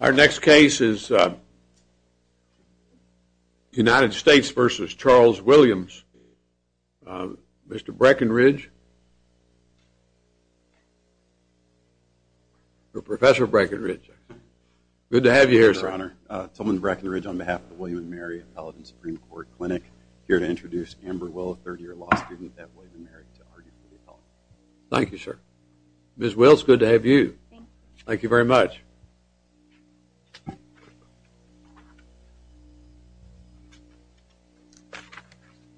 Our next case is United States v. Charles Williams. Mr. Breckinridge or Professor Breckinridge. Good to have you here sir. Your Honor, Tillman Breckinridge on behalf of the William & Mary Appellate and Supreme Court Clinic. I'm here to introduce Amber Will, a third year law student at William & Mary to argue for the appellant. Thank you sir. Ms. Will, it's good to have you. Thank you very much.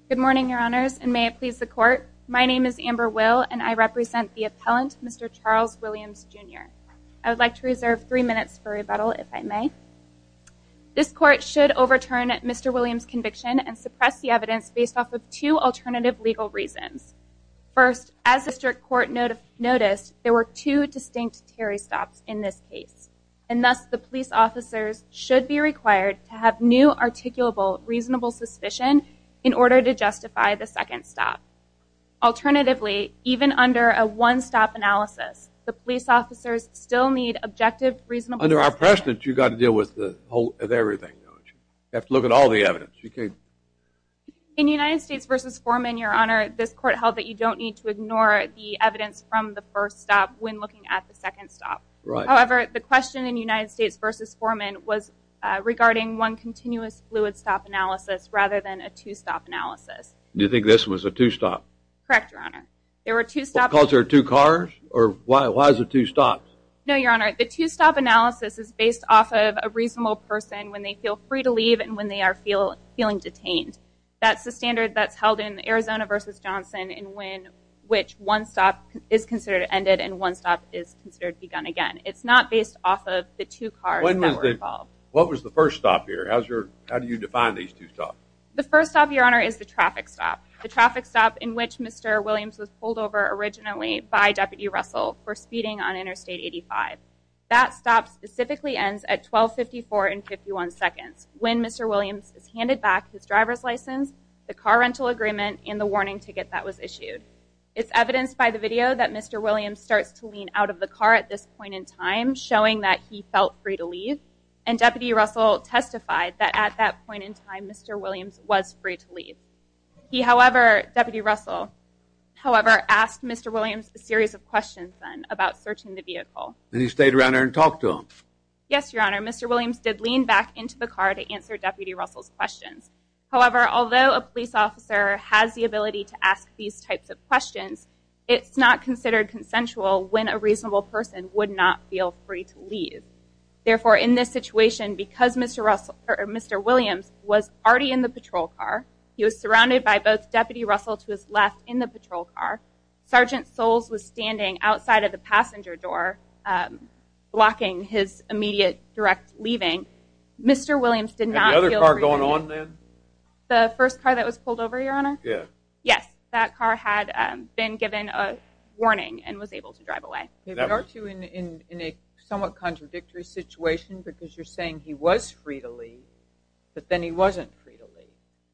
Good morning, Your Honors, and may it please the Court. My name is Amber Will and I represent the appellant, Mr. Charles Williams, Jr. I would like to reserve three minutes for rebuttal, if I may. This Court should overturn Mr. Williams' conviction and suppress the evidence based off of two alternative legal reasons. First, as the District Court noticed, there were two distinct Terry stops in this case. And thus, the police officers should be required to have new articulable reasonable suspicion in order to justify the second stop. Alternatively, even under a one-stop analysis, the police officers still need objective reasonable suspicion. Under our precedent, you've got to deal with the whole of everything, don't you? You have to look at all the evidence. In United States v. Foreman, Your Honor, this Court held that you don't need to ignore the evidence from the first stop when looking at the second stop. However, the question in United States v. Foreman was regarding one continuous fluid stop analysis rather than a two-stop analysis. Do you think this was a two-stop? Correct, Your Honor. Because there are two cars? Or why is it two stops? No, Your Honor. The two-stop analysis is based off of a reasonable person when they feel free to leave and when they are feeling detained. That's the standard that's held in Arizona v. Johnson in which one stop is considered ended and one stop is considered begun again. It's not based off of the two cars that were involved. What was the first stop here? How do you define these two stops? The first stop, Your Honor, is the traffic stop. The traffic stop in which Mr. Williams was pulled over originally by Deputy Russell for speeding on Interstate 85. That stop specifically ends at 1254 and 51 seconds when Mr. Williams is handed back his driver's license, the car rental agreement, and the warning ticket that was issued. It's evidenced by the video that Mr. Williams starts to lean out of the car at this point in time, showing that he felt free to leave. And Deputy Russell testified that at that point in time, Mr. Williams was free to leave. He, however, Deputy Russell, however, asked Mr. Williams a series of questions then about searching the vehicle. And he stayed around there and talked to him? Yes, Your Honor. Mr. Williams did lean back into the car to answer Deputy Russell's questions. However, although a police officer has the ability to ask these types of questions, it's not considered consensual when a reasonable person would not feel free to leave. Therefore, in this situation, because Mr. Williams was already in the patrol car, he was surrounded by both Deputy Russell to his left in the patrol car, Sergeant Soles was standing outside of the passenger door blocking his immediate direct leaving, Mr. Williams did not feel free to leave. And the other car going on then? The first car that was pulled over, Your Honor? Yes. Yes, that car had been given a warning and was able to drive away. Okay, but aren't you in a somewhat contradictory situation because you're saying he was free to leave, but then he wasn't free to leave?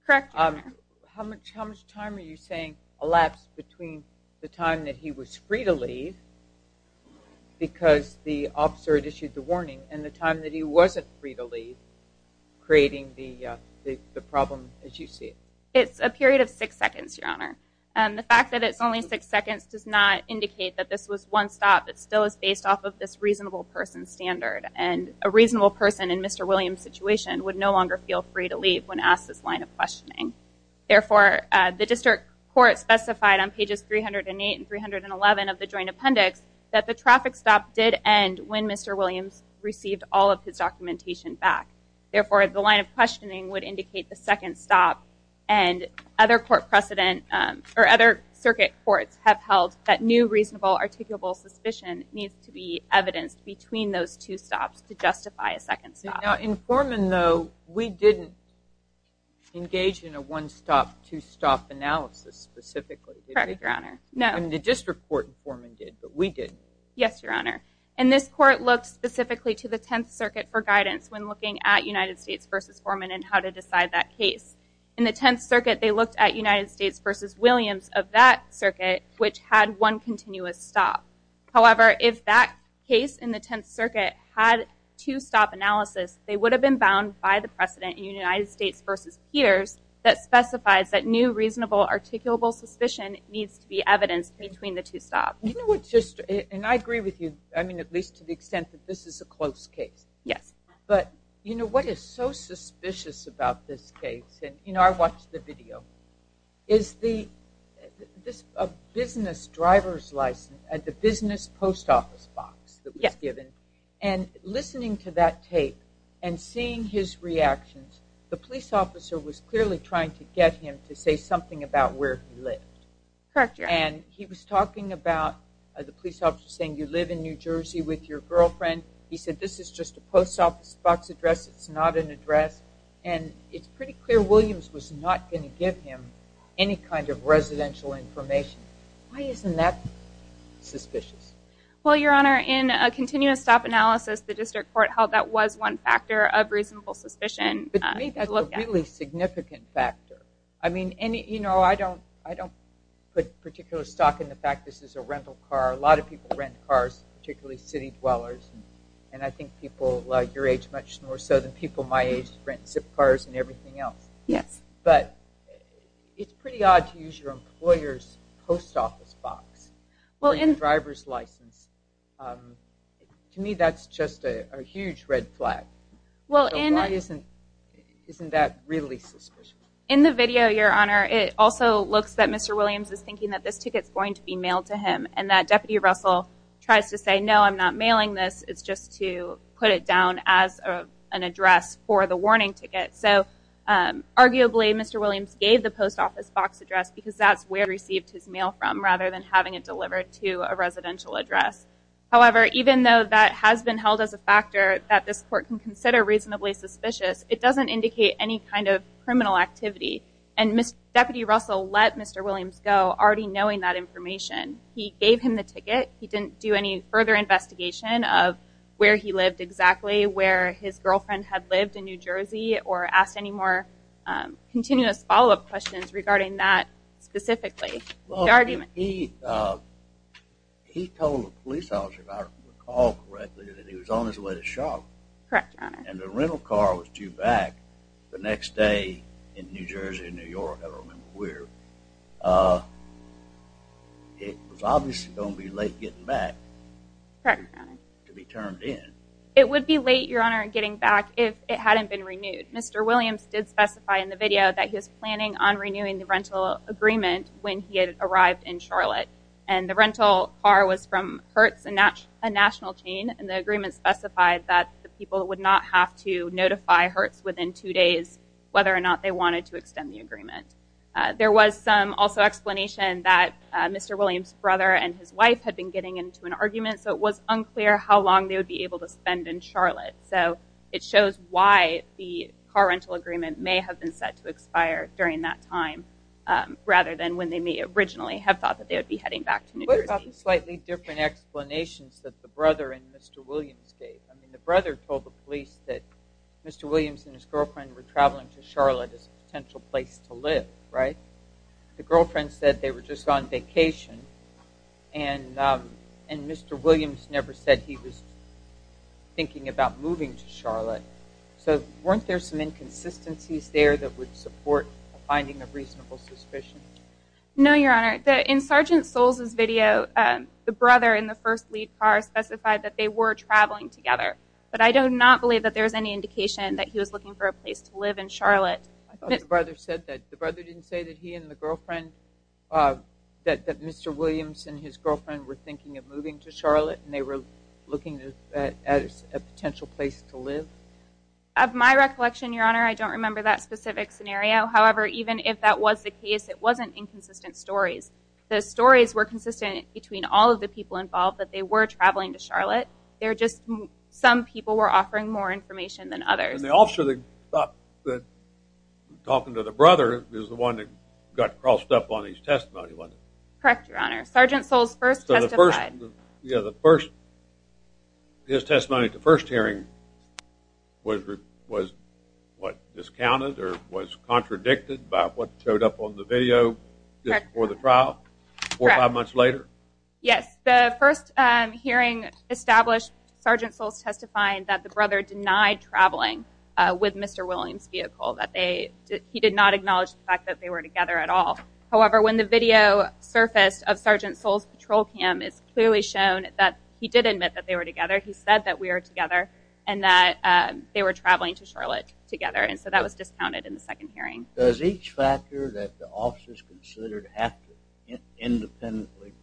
Correct, Your Honor. How much time are you saying elapsed between the time that he was free to leave, because the officer had issued the warning, and the time that he wasn't free to leave, creating the problem as you see it? It's a period of six seconds, Your Honor. The fact that it's only six seconds does not indicate that this was one stop. It still is based off of this reasonable person standard, and a reasonable person in Mr. Williams' situation would no longer feel free to leave when asked this line of questioning. Therefore, the district court specified on pages 308 and 311 of the joint appendix that the traffic stop did end when Mr. Williams received all of his documentation back. Therefore, the line of questioning would indicate the second stop, and other circuit courts have held that new reasonable articulable suspicion needs to be evidenced between those two stops to justify a second stop. Now, in Foreman, though, we didn't engage in a one-stop, two-stop analysis specifically, did we? Correct, Your Honor. No. The district court in Foreman did, but we didn't. Yes, Your Honor. And this court looked specifically to the Tenth Circuit for guidance when looking at United States v. Foreman and how to decide that case. In the Tenth Circuit, they looked at United States v. Williams of that circuit, which had one continuous stop. However, if that case in the Tenth Circuit had two-stop analysis, they would have been bound by the precedent in United States v. Peters that specifies that new reasonable articulable suspicion needs to be evidenced between the two stops. And I agree with you, at least to the extent that this is a close case. Yes. But what is so suspicious about this case, and I watched the video, is this business driver's license at the business post office box that was given. And listening to that tape and seeing his reactions, the police officer was clearly trying to get him to say something about where he lived. Correct, Your Honor. And he was talking about, the police officer saying, you live in New Jersey with your girlfriend. He said, this is just a post office box address, it's not an address. And it's pretty clear Williams was not going to give him any kind of residential information. Why isn't that suspicious? Well, Your Honor, in a continuous stop analysis, the district court held that was one factor of reasonable suspicion. But to me, that's a really significant factor. I mean, I don't put particular stock in the fact this is a rental car. A lot of people rent cars, particularly city dwellers. And I think people your age much more so than people my age rent Zip cars and everything else. Yes. But it's pretty odd to use your employer's post office box for your driver's license. To me, that's just a huge red flag. So why isn't that really suspicious? In the video, Your Honor, it also looks that Mr. Williams is thinking that this ticket is going to be mailed to him. And that Deputy Russell tries to say, no, I'm not mailing this. It's just to put it down as an address for the warning ticket. So arguably, Mr. Williams gave the post office box address because that's where he received his mail from, rather than having it delivered to a residential address. However, even though that has been held as a factor that this court can consider reasonably suspicious, it doesn't indicate any kind of criminal activity. And Deputy Russell let Mr. Williams go already knowing that information. He gave him the ticket. He didn't do any further investigation of where he lived exactly, where his girlfriend had lived in New Jersey, or ask any more continuous follow-up questions regarding that specifically. He told the police officer, if I recall correctly, that he was on his way to shop. Correct, Your Honor. And the rental car was due back the next day in New Jersey, New York. I don't remember where. It was obviously going to be late getting back. Correct, Your Honor. To be turned in. It would be late, Your Honor, getting back if it hadn't been renewed. Mr. Williams did specify in the video that he was planning on renewing the rental agreement when he had arrived in Charlotte. And the rental car was from Hertz, a national chain, and the agreement specified that the people would not have to notify Hertz within two days whether or not they wanted to extend the agreement. There was some also explanation that Mr. Williams' brother and his wife had been getting into an argument, so it was unclear how long they would be able to spend in Charlotte. So it shows why the car rental agreement may have been set to expire during that time rather than when they may originally have thought that they would be heading back to New Jersey. What about the slightly different explanations that the brother and Mr. Williams gave? I mean, the brother told the police that Mr. Williams and his girlfriend were traveling to Charlotte as a potential place to live, right? The girlfriend said they were just on vacation, and Mr. Williams never said he was thinking about moving to Charlotte. So weren't there some inconsistencies there that would support finding a reasonable suspicion? No, Your Honor. In Sergeant Soles' video, the brother in the first lead car specified that they were traveling together, but I do not believe that there is any indication that he was looking for a place to live in Charlotte. I thought the brother said that. The brother didn't say that he and the girlfriend, that Mr. Williams and his girlfriend were thinking of moving to Charlotte and they were looking at a potential place to live? Of my recollection, Your Honor, I don't remember that specific scenario. However, even if that was the case, it wasn't inconsistent stories. The stories were consistent between all of the people involved that they were traveling to Charlotte. They were just some people were offering more information than others. And the officer that was talking to the brother was the one that got crossed up on his testimony, wasn't he? Correct, Your Honor. Sergeant Soles first testified. His testimony at the first hearing was what? Discounted or was contradicted by what showed up on the video just before the trial? Four or five months later? Yes. The first hearing established Sergeant Soles testifying that the brother denied traveling with Mr. Williams' vehicle. He did not acknowledge the fact that they were together at all. However, when the video surfaced of Sergeant Soles' patrol cam, it's clearly shown that he did admit that they were together. He said that we were together and that they were traveling to Charlotte together. And so that was discounted in the second hearing. Does each factor that the officers considered after independently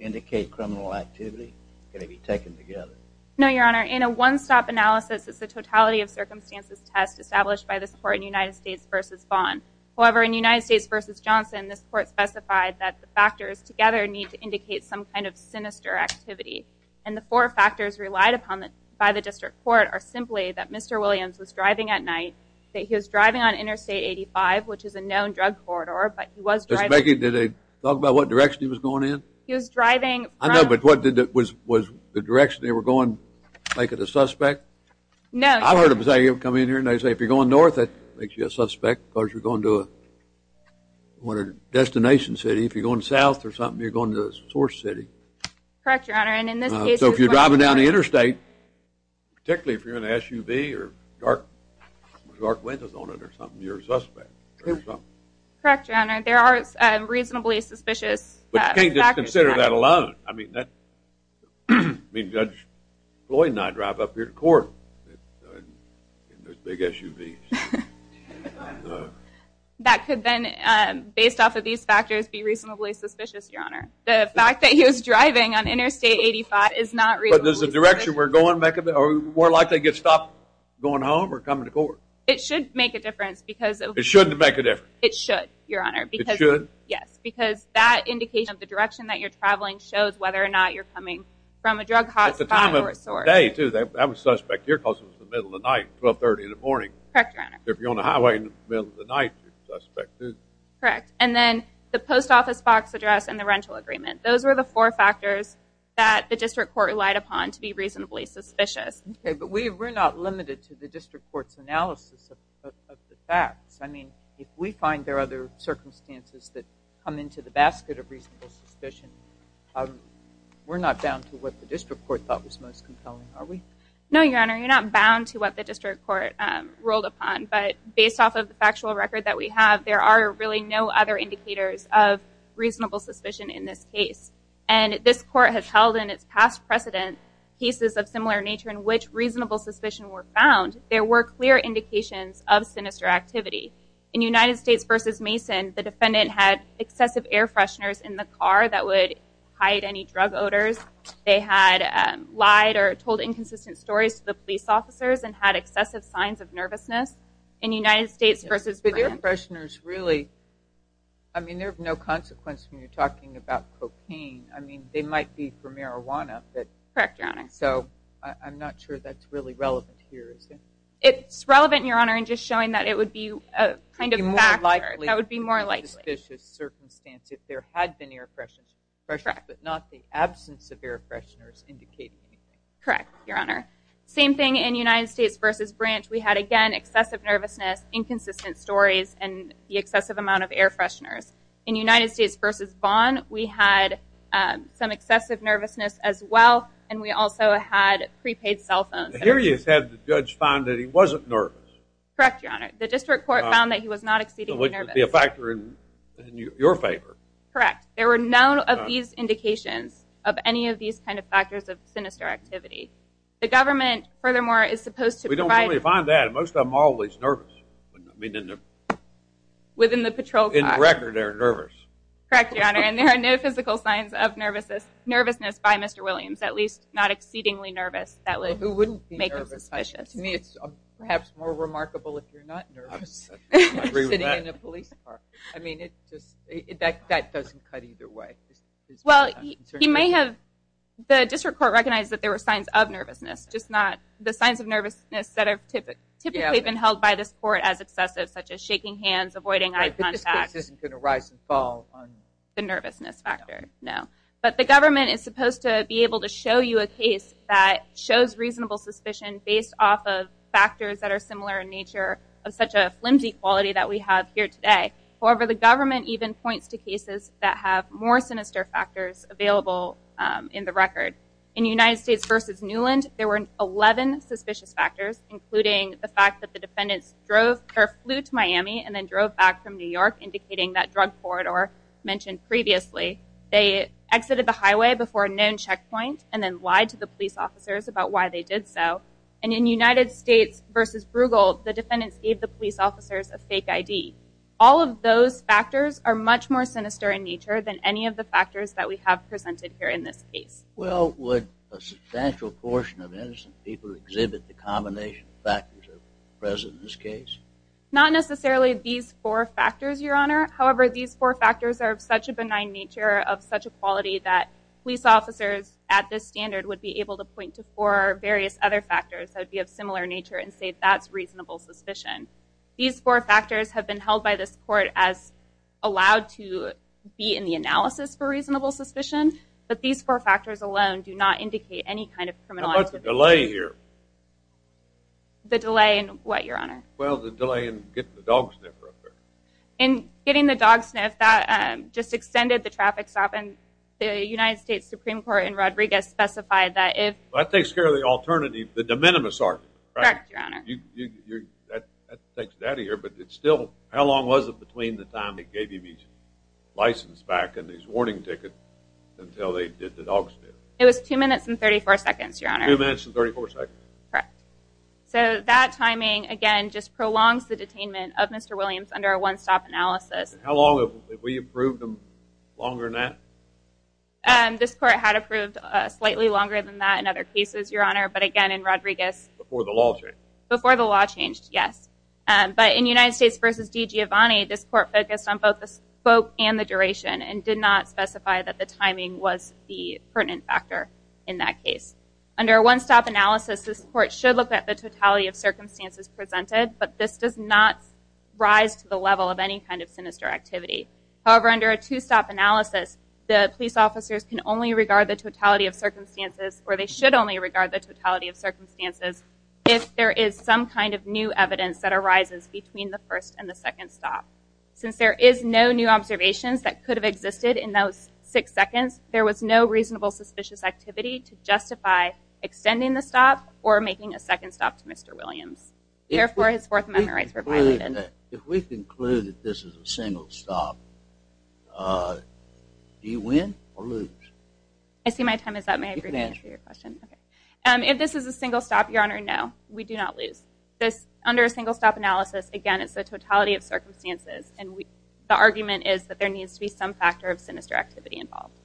indicate criminal activity going to be taken together? No, Your Honor. In a one-stop analysis, it's a totality of circumstances test established by the support in United States v. Vaughn. However, in United States v. Johnson, this court specified that the factors together need to indicate some kind of sinister activity. And the four factors relied upon by the district court are simply that Mr. Williams was driving at night, that he was driving on Interstate 85, which is a known drug corridor, but he was driving… Did they talk about what direction he was going in? He was driving… I know, but was the direction they were going make it a suspect? No. I've heard them come in here and they say if you're going north, that makes you a suspect because you're going to a destination city. If you're going south or something, you're going to a source city. Correct, Your Honor. So if you're driving down the interstate, particularly if you're in an SUV or dark windows on it or something, you're a suspect. Correct, Your Honor. There are reasonably suspicious factors. But you can't just consider that alone. I mean, Judge Floyd and I drive up here to court in those big SUVs. That could then, based off of these factors, be reasonably suspicious, Your Honor. The fact that he was driving on Interstate 85 is not reasonably suspicious. But is the direction we're going more likely to get stopped going home or coming to court? It should make a difference because… It shouldn't make a difference? It should, Your Honor. It should? Yes, because that indication of the direction that you're traveling shows whether or not you're coming from a drug hotspot or a source. At the time of day, too. I'm a suspect here because it was the middle of the night, 1230 in the morning. Correct, Your Honor. If you're on a highway in the middle of the night, you're a suspect, too. Correct. And then the post office box address and the rental agreement. Those were the four factors that the district court relied upon to be reasonably suspicious. Okay, but we're not limited to the district court's analysis of the facts. I mean, if we find there are other circumstances that come into the basket of reasonable suspicion, we're not bound to what the district court thought was most compelling, are we? No, Your Honor. You're not bound to what the district court ruled upon. But based off of the factual record that we have, there are really no other indicators of reasonable suspicion in this case. And this court has held in its past precedent cases of similar nature in which reasonable suspicion were found. There were clear indications of sinister activity. In United States v. Mason, the defendant had excessive air fresheners in the car that would hide any drug odors. They had lied or told inconsistent stories to the police officers and had excessive signs of nervousness. In United States v. Brandt. But air fresheners really, I mean, they have no consequence when you're talking about cocaine. I mean, they might be for marijuana. Correct, Your Honor. So I'm not sure that's really relevant here, is it? It's relevant, Your Honor, in just showing that it would be a kind of factor. That would be more likely. That would be more likely. If there had been air fresheners, but not the absence of air fresheners indicating anything. Correct, Your Honor. Same thing in United States v. Brandt. We had, again, excessive nervousness, inconsistent stories, and the excessive amount of air fresheners. In United States v. Vaughn, we had some excessive nervousness as well, and we also had prepaid cell phones. Here you said the judge found that he wasn't nervous. Correct, Your Honor. The district court found that he was not exceedingly nervous. So it would be a factor in your favor. Correct. There were none of these indications of any of these kind of factors of sinister activity. The government, furthermore, is supposed to provide. We don't really find that. Most of them are always nervous. I mean, in the. Within the patrol car. In the record, they're nervous. Correct, Your Honor. And there are no physical signs of nervousness by Mr. Williams, at least not exceedingly nervous. That would make him suspicious. To me, it's perhaps more remarkable if you're not nervous sitting in a police car. I mean, that doesn't cut either way. Well, he may have. The district court recognized that there were signs of nervousness, just not the signs of nervousness that have typically been held by this court as excessive, such as shaking hands, avoiding eye contact. The case isn't going to rise and fall on you. The nervousness factor, no. But the government is supposed to be able to show you a case that shows reasonable suspicion based off of factors that are similar in nature of such a flimsy quality that we have here today. However, the government even points to cases that have more sinister factors available in the record. In United States v. Newland, there were 11 suspicious factors, including the fact that the defendants flew to Miami and then drove back from New York, indicating that drug corridor mentioned previously. They exited the highway before a known checkpoint and then lied to the police officers about why they did so. And in United States v. Bruegel, the defendants gave the police officers a fake ID. All of those factors are much more sinister in nature than any of the factors that we have presented here in this case. Well, would a substantial portion of innocent people exhibit the combination of factors present in this case? Not necessarily these four factors, Your Honor. However, these four factors are of such a benign nature, of such a quality, that police officers at this standard would be able to point to four various other factors that would be of similar nature and say that's reasonable suspicion. These four factors have been held by this court as allowed to be in the analysis for reasonable suspicion, but these four factors alone do not indicate any kind of criminal activity. How about the delay here? The delay in what, Your Honor? Well, the delay in getting the dog sniffer up there. In getting the dog sniff, that just extended the traffic stop and the United States Supreme Court in Rodriguez specified that if— Well, that takes care of the alternative, the de minimis argument, right? Correct, Your Honor. That takes it out of here, but it's still— License back in these warning tickets until they did the dog sniff. It was 2 minutes and 34 seconds, Your Honor. 2 minutes and 34 seconds. Correct. So that timing, again, just prolongs the detainment of Mr. Williams under a one-stop analysis. How long? Have we approved him longer than that? This court had approved slightly longer than that in other cases, Your Honor, but again in Rodriguez— Before the law changed. Before the law changed, yes. But in United States v. DiGiovanni, this court focused on both the scope and the duration and did not specify that the timing was the pertinent factor in that case. Under a one-stop analysis, this court should look at the totality of circumstances presented, but this does not rise to the level of any kind of sinister activity. However, under a two-stop analysis, the police officers can only regard the totality of circumstances or they should only regard the totality of circumstances if there is some kind of new evidence that arises between the first and the second stop. Since there is no new observations that could have existed in those 6 seconds, there was no reasonable suspicious activity to justify extending the stop or making a second stop to Mr. Williams. Therefore, his Fourth Amendment rights were violated. If we conclude that this is a single stop, do you win or lose? I see my time is up. You can answer your question. If this is a single stop, Your Honor, no, we do not lose. Under a single stop analysis, again, it's the totality of circumstances and the argument is that there needs to be some factor of sinister activity involved.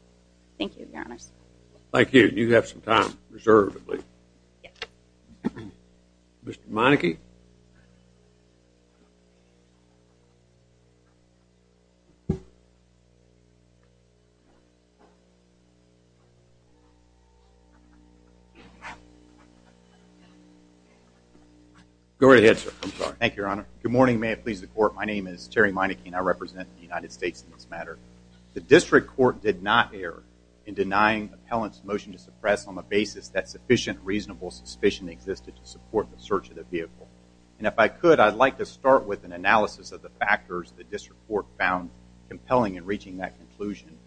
Thank you, Your Honors. Thank you. You have some time, reservedly. Mr. Monike? Go right ahead, sir. I'm sorry. Thank you, Your Honor. Good morning. May it please the Court. My name is Terry Monike and I represent the United States in this matter. The district court did not err in denying appellant's motion to suppress on the basis that sufficient reasonable suspicion existed to support the search of the vehicle. And if I could, I'd like to start with an analysis of the factors the district court found compelling in reaching that conclusion.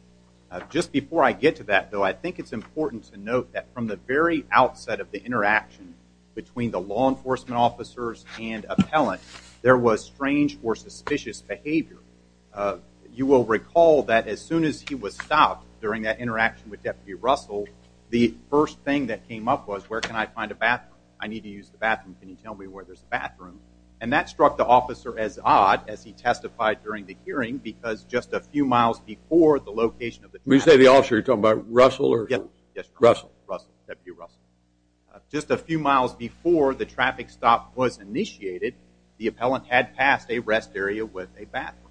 Just before I get to that, though, I think it's important to note that from the very outset of the interaction between the law enforcement officers and appellant, there was strange or suspicious behavior. You will recall that as soon as he was stopped during that interaction with Deputy Russell, the first thing that came up was, where can I find a bathroom? I need to use the bathroom. Can you tell me where there's a bathroom? And that struck the officer as odd as he testified during the hearing because just a few miles before the location of the vehicle. When you say the officer, you're talking about Russell? Yes, Russell, Deputy Russell. Just a few miles before the traffic stop was initiated, the appellant had passed a rest area with a bathroom.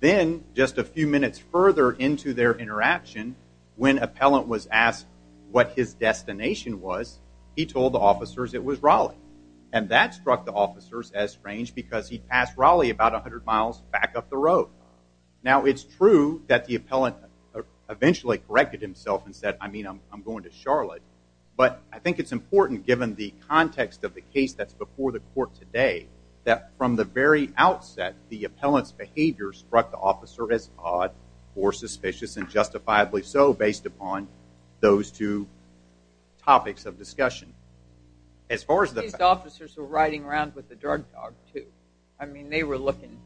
Then, just a few minutes further into their interaction, when appellant was asked what his destination was, he told the officers it was Raleigh. And that struck the officers as strange because he'd passed Raleigh about 100 miles back up the road. Now, it's true that the appellant eventually corrected himself and said, I mean, I'm going to Charlotte, but I think it's important given the context of the case that's before the court today that from the very outset, the appellant's behavior struck the officer as odd or suspicious and justifiably so based upon those two topics of discussion. These officers were riding around with the drug dog, too. I mean, they were looking.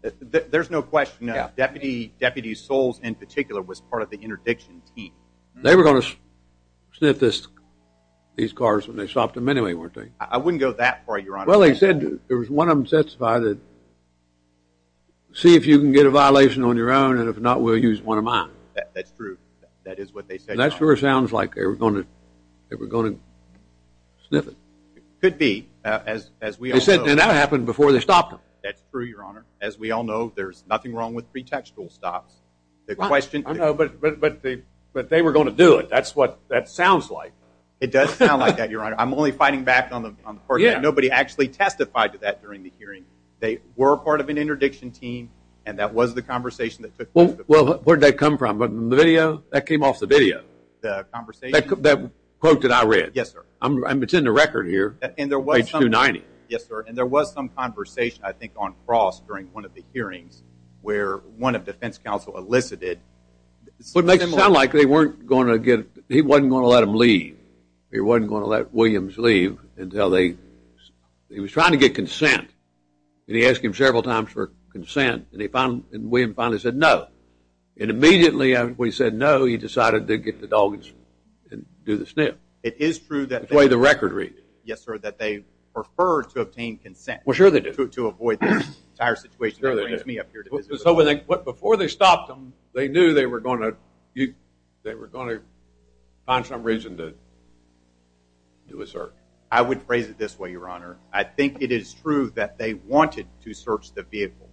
There's no question that Deputy Souls in particular was part of the interdiction team. They were going to sniff these cars when they stopped them anyway, weren't they? I wouldn't go that far, Your Honor. Well, they said there was one of them testified that, see if you can get a violation on your own, and if not, we'll use one of mine. That's true. That is what they said. That sure sounds like they were going to sniff it. Could be, as we all know. They said that happened before they stopped them. That's true, Your Honor. As we all know, there's nothing wrong with pretextual stops. But they were going to do it. That's what that sounds like. It does sound like that, Your Honor. I'm only fighting back on the part that nobody actually testified to that during the hearing. They were part of an interdiction team, and that was the conversation that took place. Well, where did that come from? The video? That came off the video. The conversation? That quote that I read. Yes, sir. It's in the record here, page 290. Yes, sir. And there was some conversation, I think, on cross during one of the hearings where one of defense counsel elicited... What makes it sound like they weren't going to get... He wasn't going to let them leave. He wasn't going to let Williams leave until they... He was trying to get consent, and he asked him several times for consent, and he finally...William finally said no. And immediately after he said no, he decided to get the doggies and do the sniff. It is true that... That's the way the record reads. Yes, sir, that they preferred to obtain consent... Well, sure they did. ...to avoid this entire situation that brings me up here to visit with them. Before they stopped them, they knew they were going to find some reason to do a search. I would phrase it this way, Your Honor. I think it is true that they wanted to search the vehicle.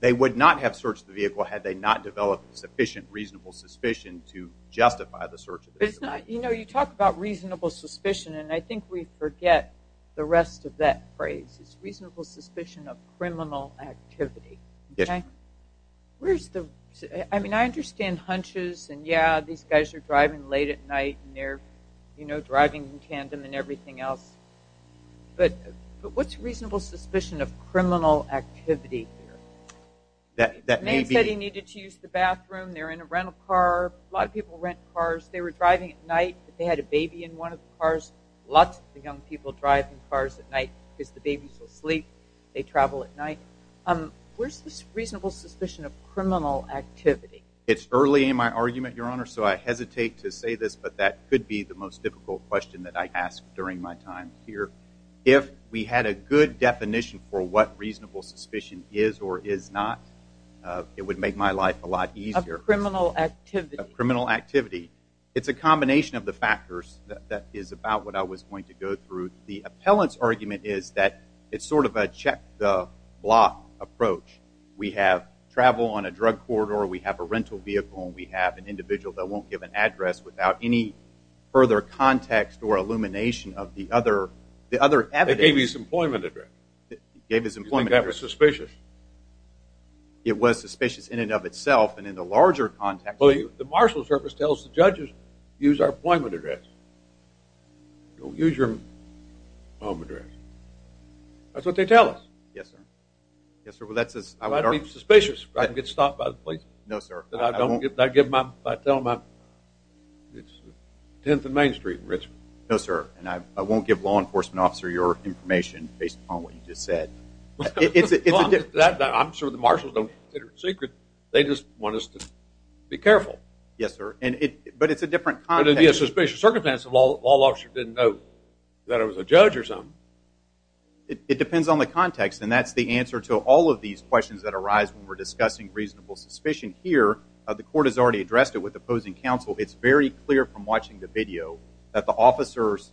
They would not have searched the vehicle had they not developed sufficient reasonable suspicion to justify the search of the vehicle. But it's not...You know, you talk about reasonable suspicion, and I think we forget the rest of that phrase. It's reasonable suspicion of criminal activity. Yes. Okay? Where's the... I mean, I understand hunches and, yeah, these guys are driving late at night, and they're, you know, driving in tandem and everything else, but what's reasonable suspicion of criminal activity here? That maybe... The man said he needed to use the bathroom. They're in a rental car. A lot of people rent cars. They were driving at night. They had a baby in one of the cars. Lots of the young people drive in cars at night because the babies will sleep. They travel at night. Where's this reasonable suspicion of criminal activity? It's early in my argument, Your Honor, so I hesitate to say this, but that could be the most difficult question that I ask during my time here. If we had a good definition for what reasonable suspicion is or is not, it would make my life a lot easier. Criminal activity. Criminal activity. It's a combination of the factors that is about what I was going to go through. The appellant's argument is that it's sort of a check the block approach. We have travel on a drug corridor, we have a rental vehicle, and we have an individual that won't give an address without any further context or illumination of the other evidence. They gave you his employment address. They gave his employment address. You think that was suspicious? It was suspicious in and of itself, and in the larger context. Well, the marshal service tells the judges, use our employment address. Don't use your home address. That's what they tell us. Yes, sir. Yes, sir. Well, that's as I would argue. I'd be suspicious. I'd get stopped by the police. No, sir. I'd tell them it's 10th and Main Street in Richmond. No, sir. And I won't give law enforcement officer your information based upon what you just said. I'm sure the marshals don't consider it secret. They just want us to be careful. Yes, sir. But it's a different context. But it would be a suspicious circumstance if a law officer didn't know that I was a judge or something. It depends on the context, and that's the answer to all of these questions that arise when we're discussing reasonable suspicion here. The court has already addressed it with opposing counsel. It's very clear from watching the video that the officers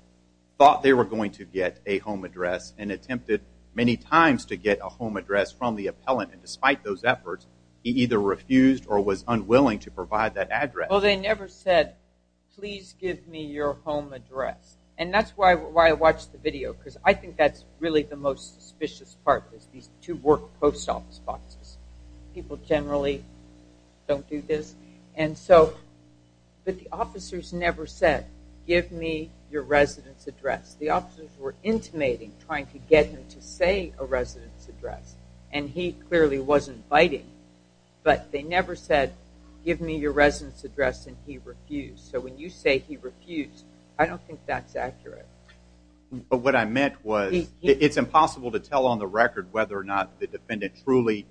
thought they were going to get a home address and attempted many times to get a home address from the appellant. And despite those efforts, he either refused or was unwilling to provide that address. Well, they never said, please give me your home address. And that's why I watched the video, because I think that's really the most suspicious part is these two work post office boxes. People generally don't do this. But the officers never said, give me your residence address. The officers were intimating, trying to get him to say a residence address. And he clearly wasn't biting. But they never said, give me your residence address, and he refused. So when you say he refused, I don't think that's accurate. But what I meant was it's impossible to tell on the record whether or not the defendant truly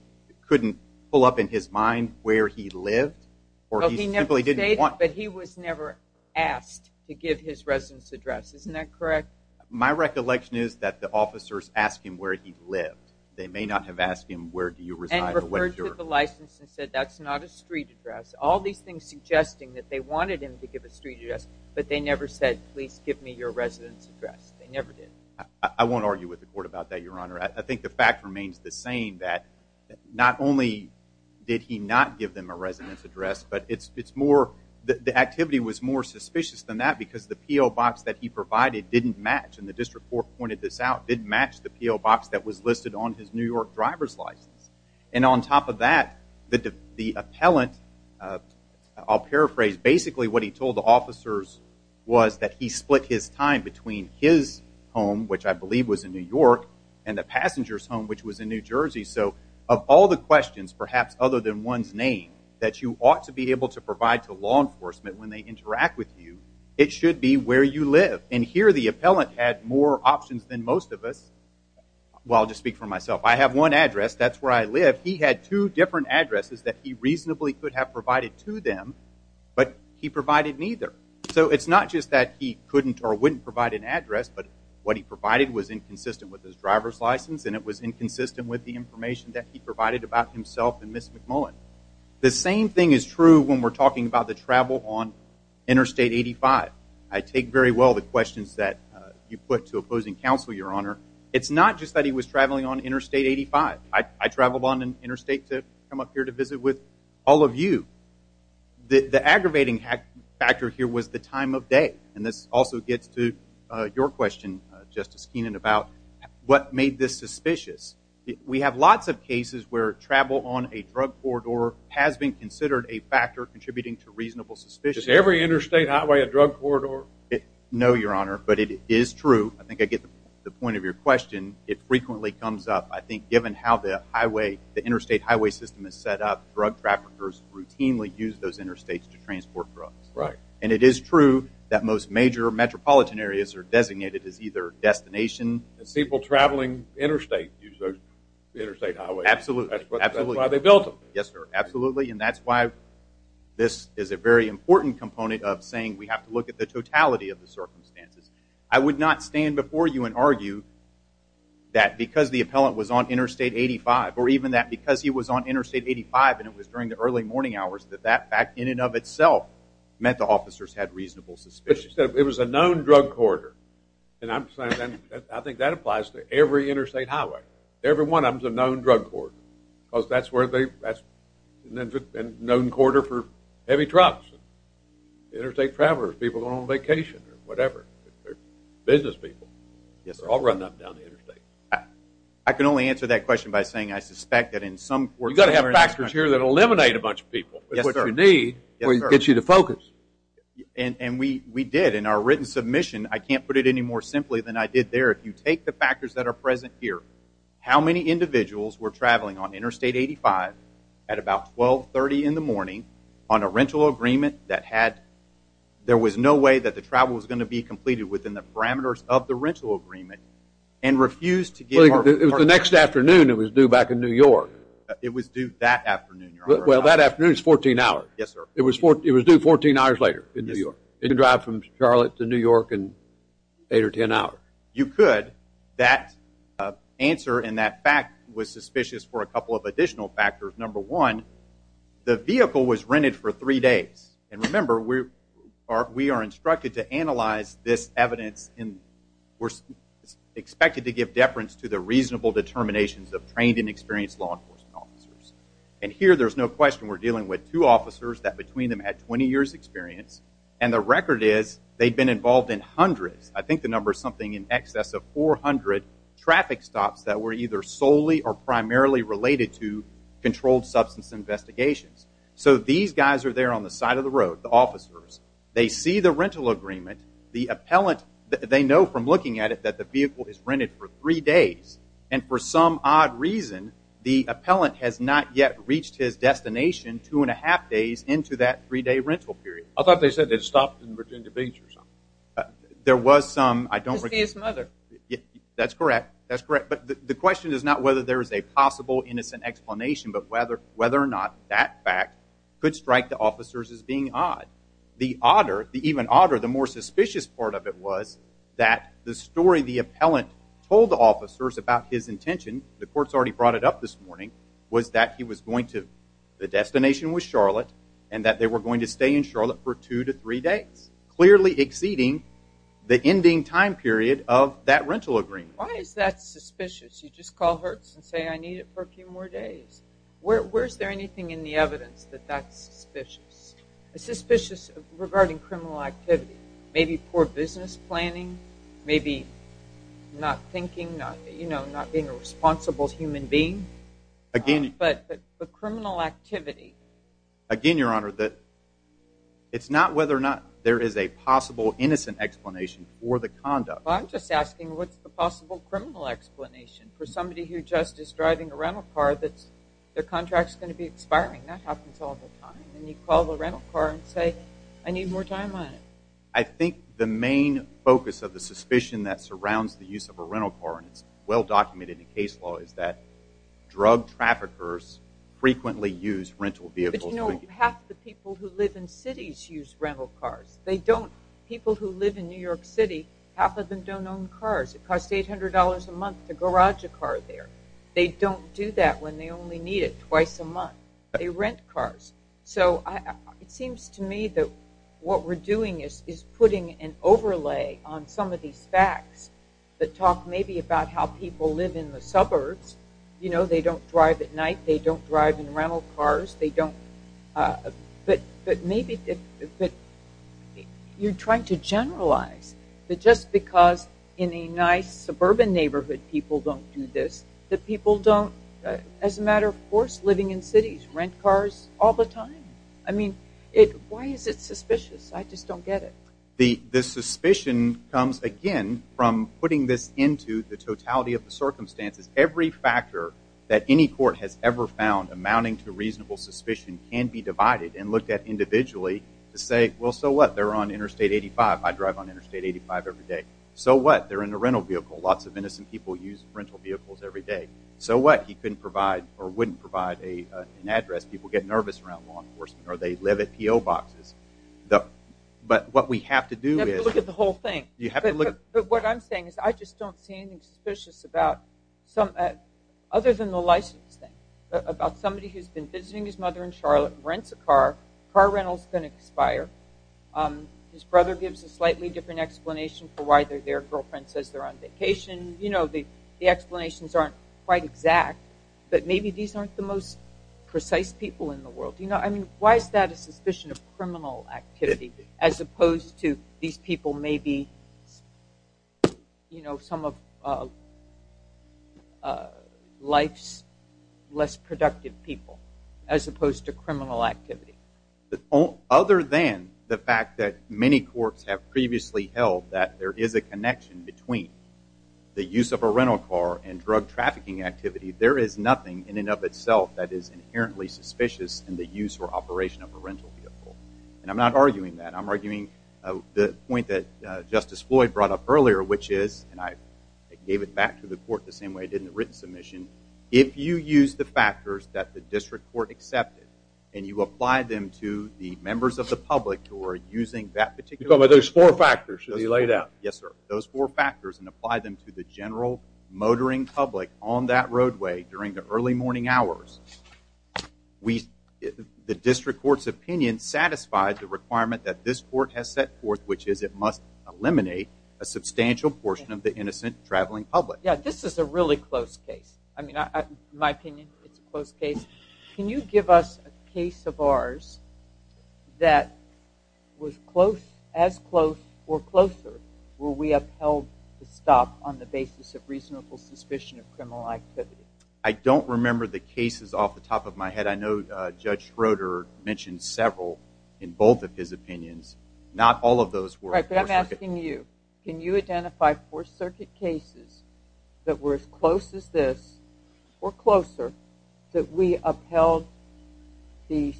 couldn't pull up in his mind where he lived. Well, he never stated, but he was never asked to give his residence address. Isn't that correct? My recollection is that the officers asked him where he lived. They may not have asked him, where do you reside? And referred to the license and said, that's not a street address. All these things suggesting that they wanted him to give a street address, but they never said, please give me your residence address. They never did. I won't argue with the court about that, Your Honor. I think the fact remains the same, that not only did he not give them a residence address, but the activity was more suspicious than that because the P.O. box that he provided didn't match, and the district court pointed this out, didn't match the P.O. box that was listed on his New York driver's license. And on top of that, the appellant, I'll paraphrase, basically what he told the officers was that he split his time between his home, which I believe was in New York, and the passenger's home, which was in New Jersey. So of all the questions, perhaps other than one's name, that you ought to be able to provide to law enforcement when they interact with you, it should be where you live. And here the appellant had more options than most of us. Well, I'll just speak for myself. I have one address. That's where I live. He had two different addresses that he reasonably could have provided to them, but he provided neither. So it's not just that he couldn't or wouldn't provide an address, but what he provided was inconsistent with his driver's license and it was inconsistent with the information that he provided about himself and Ms. McMullen. The same thing is true when we're talking about the travel on Interstate 85. I take very well the questions that you put to opposing counsel, Your Honor. It's not just that he was traveling on Interstate 85. I traveled on Interstate to come up here to visit with all of you. The aggravating factor here was the time of day, and this also gets to your question, Justice Keenan, about what made this suspicious. We have lots of cases where travel on a drug corridor has been considered a factor contributing to reasonable suspicion. Is every interstate highway a drug corridor? No, Your Honor, but it is true. I think I get the point of your question. It frequently comes up. I think given how the interstate highway system is set up, drug traffickers routinely use those interstates to transport drugs. Right. And it is true that most major metropolitan areas are designated as either destination. And people traveling interstate use those interstate highways. Absolutely. That's why they built them. Yes, sir, absolutely, and that's why this is a very important component of saying we have to look at the totality of the circumstances. I would not stand before you and argue that because the appellant was on Interstate 85, or even that because he was on Interstate 85 and it was during the early morning hours, that that fact in and of itself meant the officers had reasonable suspicion. It was a known drug corridor, and I think that applies to every interstate highway. Every one of them is a known drug corridor because that's where they – known corridor for heavy trucks, interstate travelers, people going on vacation or whatever, business people. Yes, sir. They're all running up and down the interstate. I can only answer that question by saying I suspect that in some – You've got to have factors here that eliminate a bunch of people. Yes, sir. That's what you need to get you to focus. And we did. In our written submission, I can't put it any more simply than I did there. If you take the factors that are present here, how many individuals were traveling on Interstate 85 at about 1230 in the morning on a rental agreement that had – there was no way that the travel was going to be completed within the parameters of the rental agreement and refused to give our – Well, it was the next afternoon. It was due back in New York. It was due that afternoon, Your Honor. Well, that afternoon is 14 hours. Yes, sir. It was due 14 hours later in New York. You could drive from Charlotte to New York in 8 or 10 hours. You could. That answer and that fact was suspicious for a couple of additional factors. Number one, the vehicle was rented for three days. And remember, we are instructed to analyze this evidence and we're expected to give deference to the reasonable determinations of trained and experienced law enforcement officers. And here there's no question we're dealing with two officers that between them had 20 years' experience, and the record is they'd been involved in hundreds. I think the number is something in excess of 400 traffic stops that were either solely or primarily related to controlled substance investigations. So these guys are there on the side of the road, the officers. They see the rental agreement. The appellant, they know from looking at it that the vehicle is rented for three days. And for some odd reason, the appellant has not yet reached his destination two and a half days into that three-day rental period. I thought they said they'd stopped in Virginia Beach or something. There was some. His mother. That's correct. That's correct. But the question is not whether there is a possible innocent explanation but whether or not that fact could strike the officers as being odd. The even odder, the more suspicious part of it, was that the story the appellant told the officers about his intention, the court's already brought it up this morning, was that the destination was Charlotte and that they were going to stay in Charlotte for two to three days, clearly exceeding the ending time period of that rental agreement. Why is that suspicious? You just call Hertz and say, I need it for a few more days. Where is there anything in the evidence that that's suspicious? It's suspicious regarding criminal activity. Maybe poor business planning. Maybe not thinking, not being a responsible human being. But the criminal activity. Again, Your Honor, it's not whether or not there is a possible innocent explanation for the conduct. I'm just asking what's the possible criminal explanation for somebody who just is driving a rental car that their contract is going to be expiring. That happens all the time. And you call the rental car and say, I need more time on it. I think the main focus of the suspicion that surrounds the use of a rental car, and it's well documented in case law, is that drug traffickers frequently use rental vehicles. But you know, half the people who live in cities use rental cars. People who live in New York City, half of them don't own cars. It costs $800 a month to garage a car there. They don't do that when they only need it twice a month. They rent cars. So it seems to me that what we're doing is putting an overlay on some of these facts that talk maybe about how people live in the suburbs. You know, they don't drive at night. They don't drive in rental cars. But maybe you're trying to generalize that just because in a nice suburban neighborhood people don't do this, that people don't, as a matter of course, living in cities rent cars all the time. I mean, why is it suspicious? I just don't get it. The suspicion comes, again, from putting this into the totality of the circumstances. Every factor that any court has ever found amounting to reasonable suspicion can be divided and looked at individually to say, well, so what, they're on Interstate 85. I drive on Interstate 85 every day. So what, they're in a rental vehicle. Lots of innocent people use rental vehicles every day. So what, he couldn't provide or wouldn't provide an address. People get nervous around law enforcement or they live at P.O. boxes. But what we have to do is... You have to look at the whole thing. But what I'm saying is I just don't see anything suspicious about, other than the license thing, about somebody who's been visiting his mother in Charlotte, rents a car, car rental's going to expire. His brother gives a slightly different explanation for why they're there. Girlfriend says they're on vacation. The explanations aren't quite exact. But maybe these aren't the most precise people in the world. I mean, why is that a suspicion of criminal activity as opposed to these people may be, you know, some of life's less productive people, as opposed to criminal activity? Other than the fact that many courts have previously held that there is a connection between the use of a rental car and drug trafficking activity, there is nothing in and of itself that is inherently suspicious in the use or operation of a rental vehicle. And I'm not arguing that. I'm arguing the point that Justice Floyd brought up earlier, which is, and I gave it back to the court the same way I did in the written submission, if you use the factors that the district court accepted and you apply them to the members of the public who are using that particular... You're talking about those four factors that you laid out. Yes, sir. Those four factors and apply them to the general motoring public on that roadway during the early morning hours, the district court's opinion satisfies the requirement that this court has set forth, which is it must eliminate a substantial portion of the innocent traveling public. Yeah, this is a really close case. I mean, in my opinion, it's a close case. Can you give us a case of ours that was as close or closer where we upheld the stop on the basis of reasonable suspicion of criminal activity? I don't remember the cases off the top of my head. I know Judge Schroeder mentioned several in both of his opinions. Not all of those were... Right, but I'm asking you, can you identify four circuit cases that were as close as this or closer that we upheld the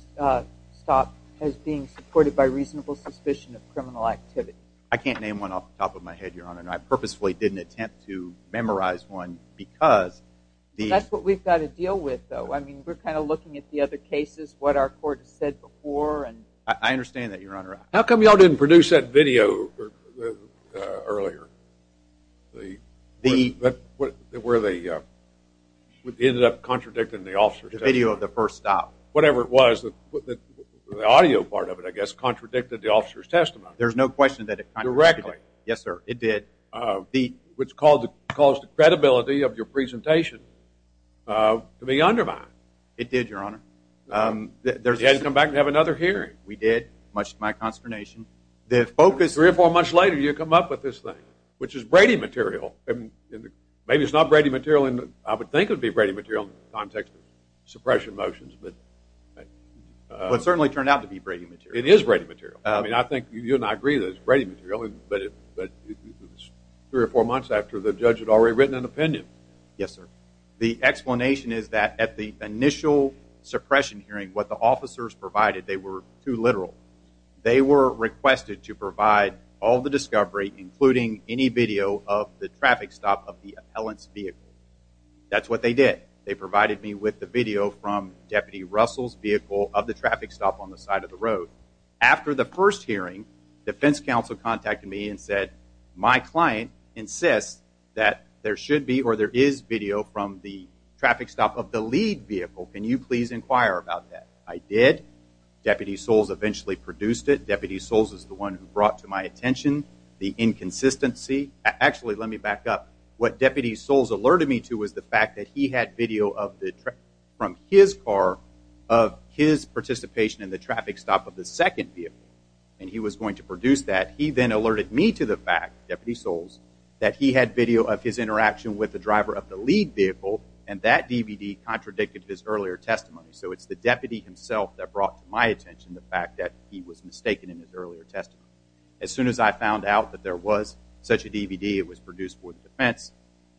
stop as being supported by reasonable suspicion of criminal activity? I can't name one off the top of my head, Your Honor, and I purposefully didn't attempt to memorize one because the... That's what we've got to deal with, though. I mean, we're kind of looking at the other cases, what our court has said before, and... I understand that, Your Honor. How come you all didn't produce that video earlier? The... Where they ended up contradicting the officer's testimony. The video of the first stop. Whatever it was, the audio part of it, I guess, contradicted the officer's testimony. There's no question that it... Directly. Yes, sir, it did. Which caused the credibility of your presentation to be undermined. It did, Your Honor. You had to come back and have another hearing. We did, much to my consternation. The focus... Three or four months later, you come up with this thing, which is Brady material. Maybe it's not Brady material in the... I would think it would be Brady material in the context of suppression motions, but... It certainly turned out to be Brady material. It is Brady material. I mean, I think you and I agree that it's Brady material, but it was three or four months after the judge had already written an opinion. Yes, sir. The explanation is that at the initial suppression hearing, what the officers provided, they were too literal. They were requested to provide all the discovery, including any video of the traffic stop of the appellant's vehicle. That's what they did. They provided me with the video from Deputy Russell's vehicle of the traffic stop on the side of the road. After the first hearing, Defense Counsel contacted me and said, my client insists that there should be or there is video from the traffic stop of the lead vehicle. Can you please inquire about that? I did. Deputy Soles eventually produced it. Deputy Soles is the one who brought to my attention the inconsistency. Actually, let me back up. What Deputy Soles alerted me to was the fact that he had video from his car of his participation in the traffic stop of the second vehicle, and he was going to produce that. He then alerted me to the fact, Deputy Soles, that he had video of his interaction with the driver of the lead vehicle, and that DVD contradicted his earlier testimony. So it's the deputy himself that brought to my attention the fact that he was mistaken in his earlier testimony. As soon as I found out that there was such a DVD, it was produced for the defense.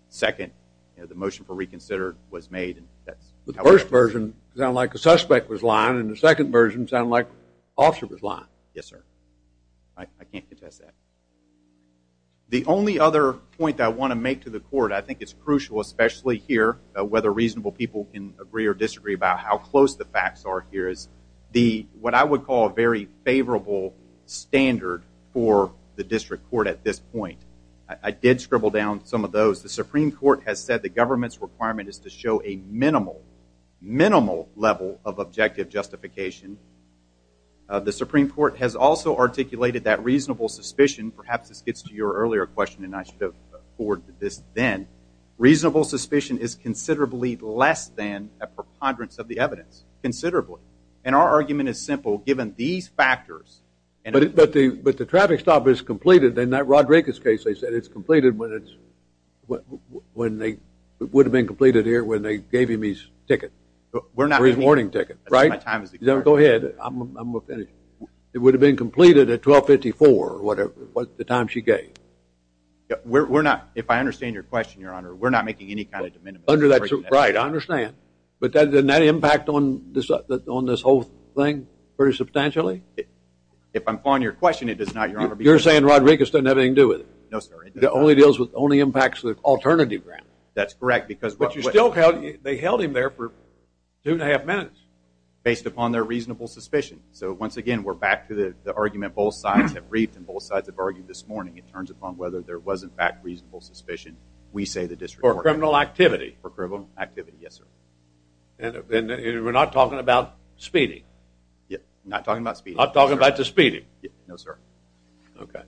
Second, the motion for reconsider was made. The first version sounded like the suspect was lying, and the second version sounded like the officer was lying. Yes, sir. I can't contest that. The only other point that I want to make to the court, I think it's crucial, especially here, whether reasonable people can agree or disagree about how close the facts are here, is what I would call a very favorable standard for the district court at this point. I did scribble down some of those. The Supreme Court has said the government's requirement is to show a minimal, minimal level of objective justification. The Supreme Court has also articulated that reasonable suspicion, perhaps this gets to your earlier question and I should have forwarded this then, reasonable suspicion is considerably less than a preponderance of the evidence, considerably. And our argument is simple. Given these factors. But the traffic stop is completed. In that Rodriguez case they said it's completed when they would have been completed here when they gave him his ticket. His warning ticket, right? Go ahead, I'm going to finish. It would have been completed at 1254, the time she gave. We're not, if I understand your question, Your Honor, we're not making any kind of de minimis. Right, I understand. But doesn't that impact on this whole thing pretty substantially? If I'm following your question, it does not, Your Honor. You're saying Rodriguez doesn't have anything to do with it. No, sir. It only impacts the alternative ground. That's correct. But you still held him there for two and a half minutes. Based upon their reasonable suspicion. So, once again, we're back to the argument both sides have briefed and both sides have argued this morning. It turns upon whether there was, in fact, reasonable suspicion. We say the district court. For criminal activity. For criminal activity, yes, sir. And we're not talking about speeding. Not talking about speeding. Not talking about the speeding. No, sir. Okay.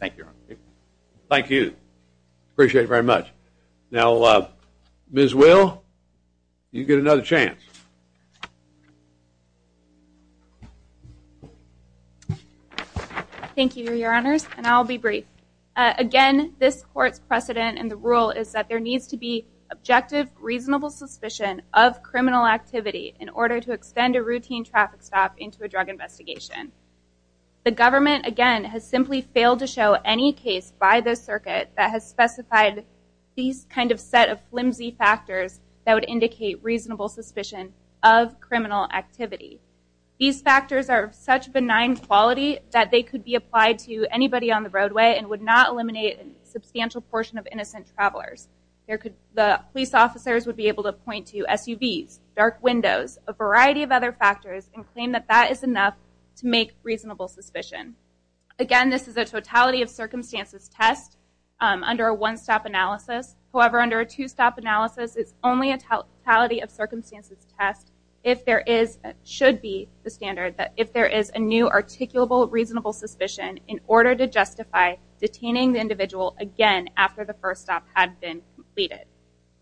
Thank you, Your Honor. Thank you. Appreciate it very much. Now, Ms. Will, you get another chance. Thank you, Your Honors, and I'll be brief. Again, this court's precedent and the rule is that there needs to be objective, reasonable suspicion of criminal activity in order to extend a routine traffic stop into a drug investigation. The government, again, has simply failed to show any case by the circuit that has specified these kind of set of flimsy factors that would indicate reasonable suspicion of criminal activity. These factors are of such benign quality that they could be applied to anybody on the roadway and would not eliminate a substantial portion of innocent travelers. The police officers would be able to point to SUVs, dark windows, a variety of other factors and claim that that is enough to make reasonable suspicion. Again, this is a totality of circumstances test under a one-stop analysis. However, under a two-stop analysis, it's only a totality of circumstances test if there is, should be the standard that if there is a new articulable reasonable suspicion in order to justify detaining the individual again after the first stop had been completed.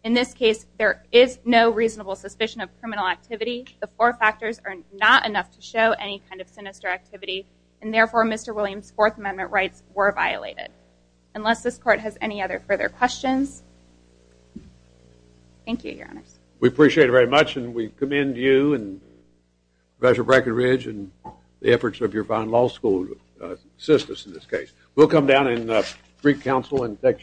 In this case, there is no reasonable suspicion of criminal activity. The four factors are not enough to show any kind of sinister activity and therefore Mr. Williams' Fourth Amendment rights were violated. Unless this court has any other further questions. Thank you, Your Honors. We appreciate it very much and we commend you and Professor Brackenridge and the efforts of your fine law school assistants in this case. We'll come down and greet counsel and take a short break.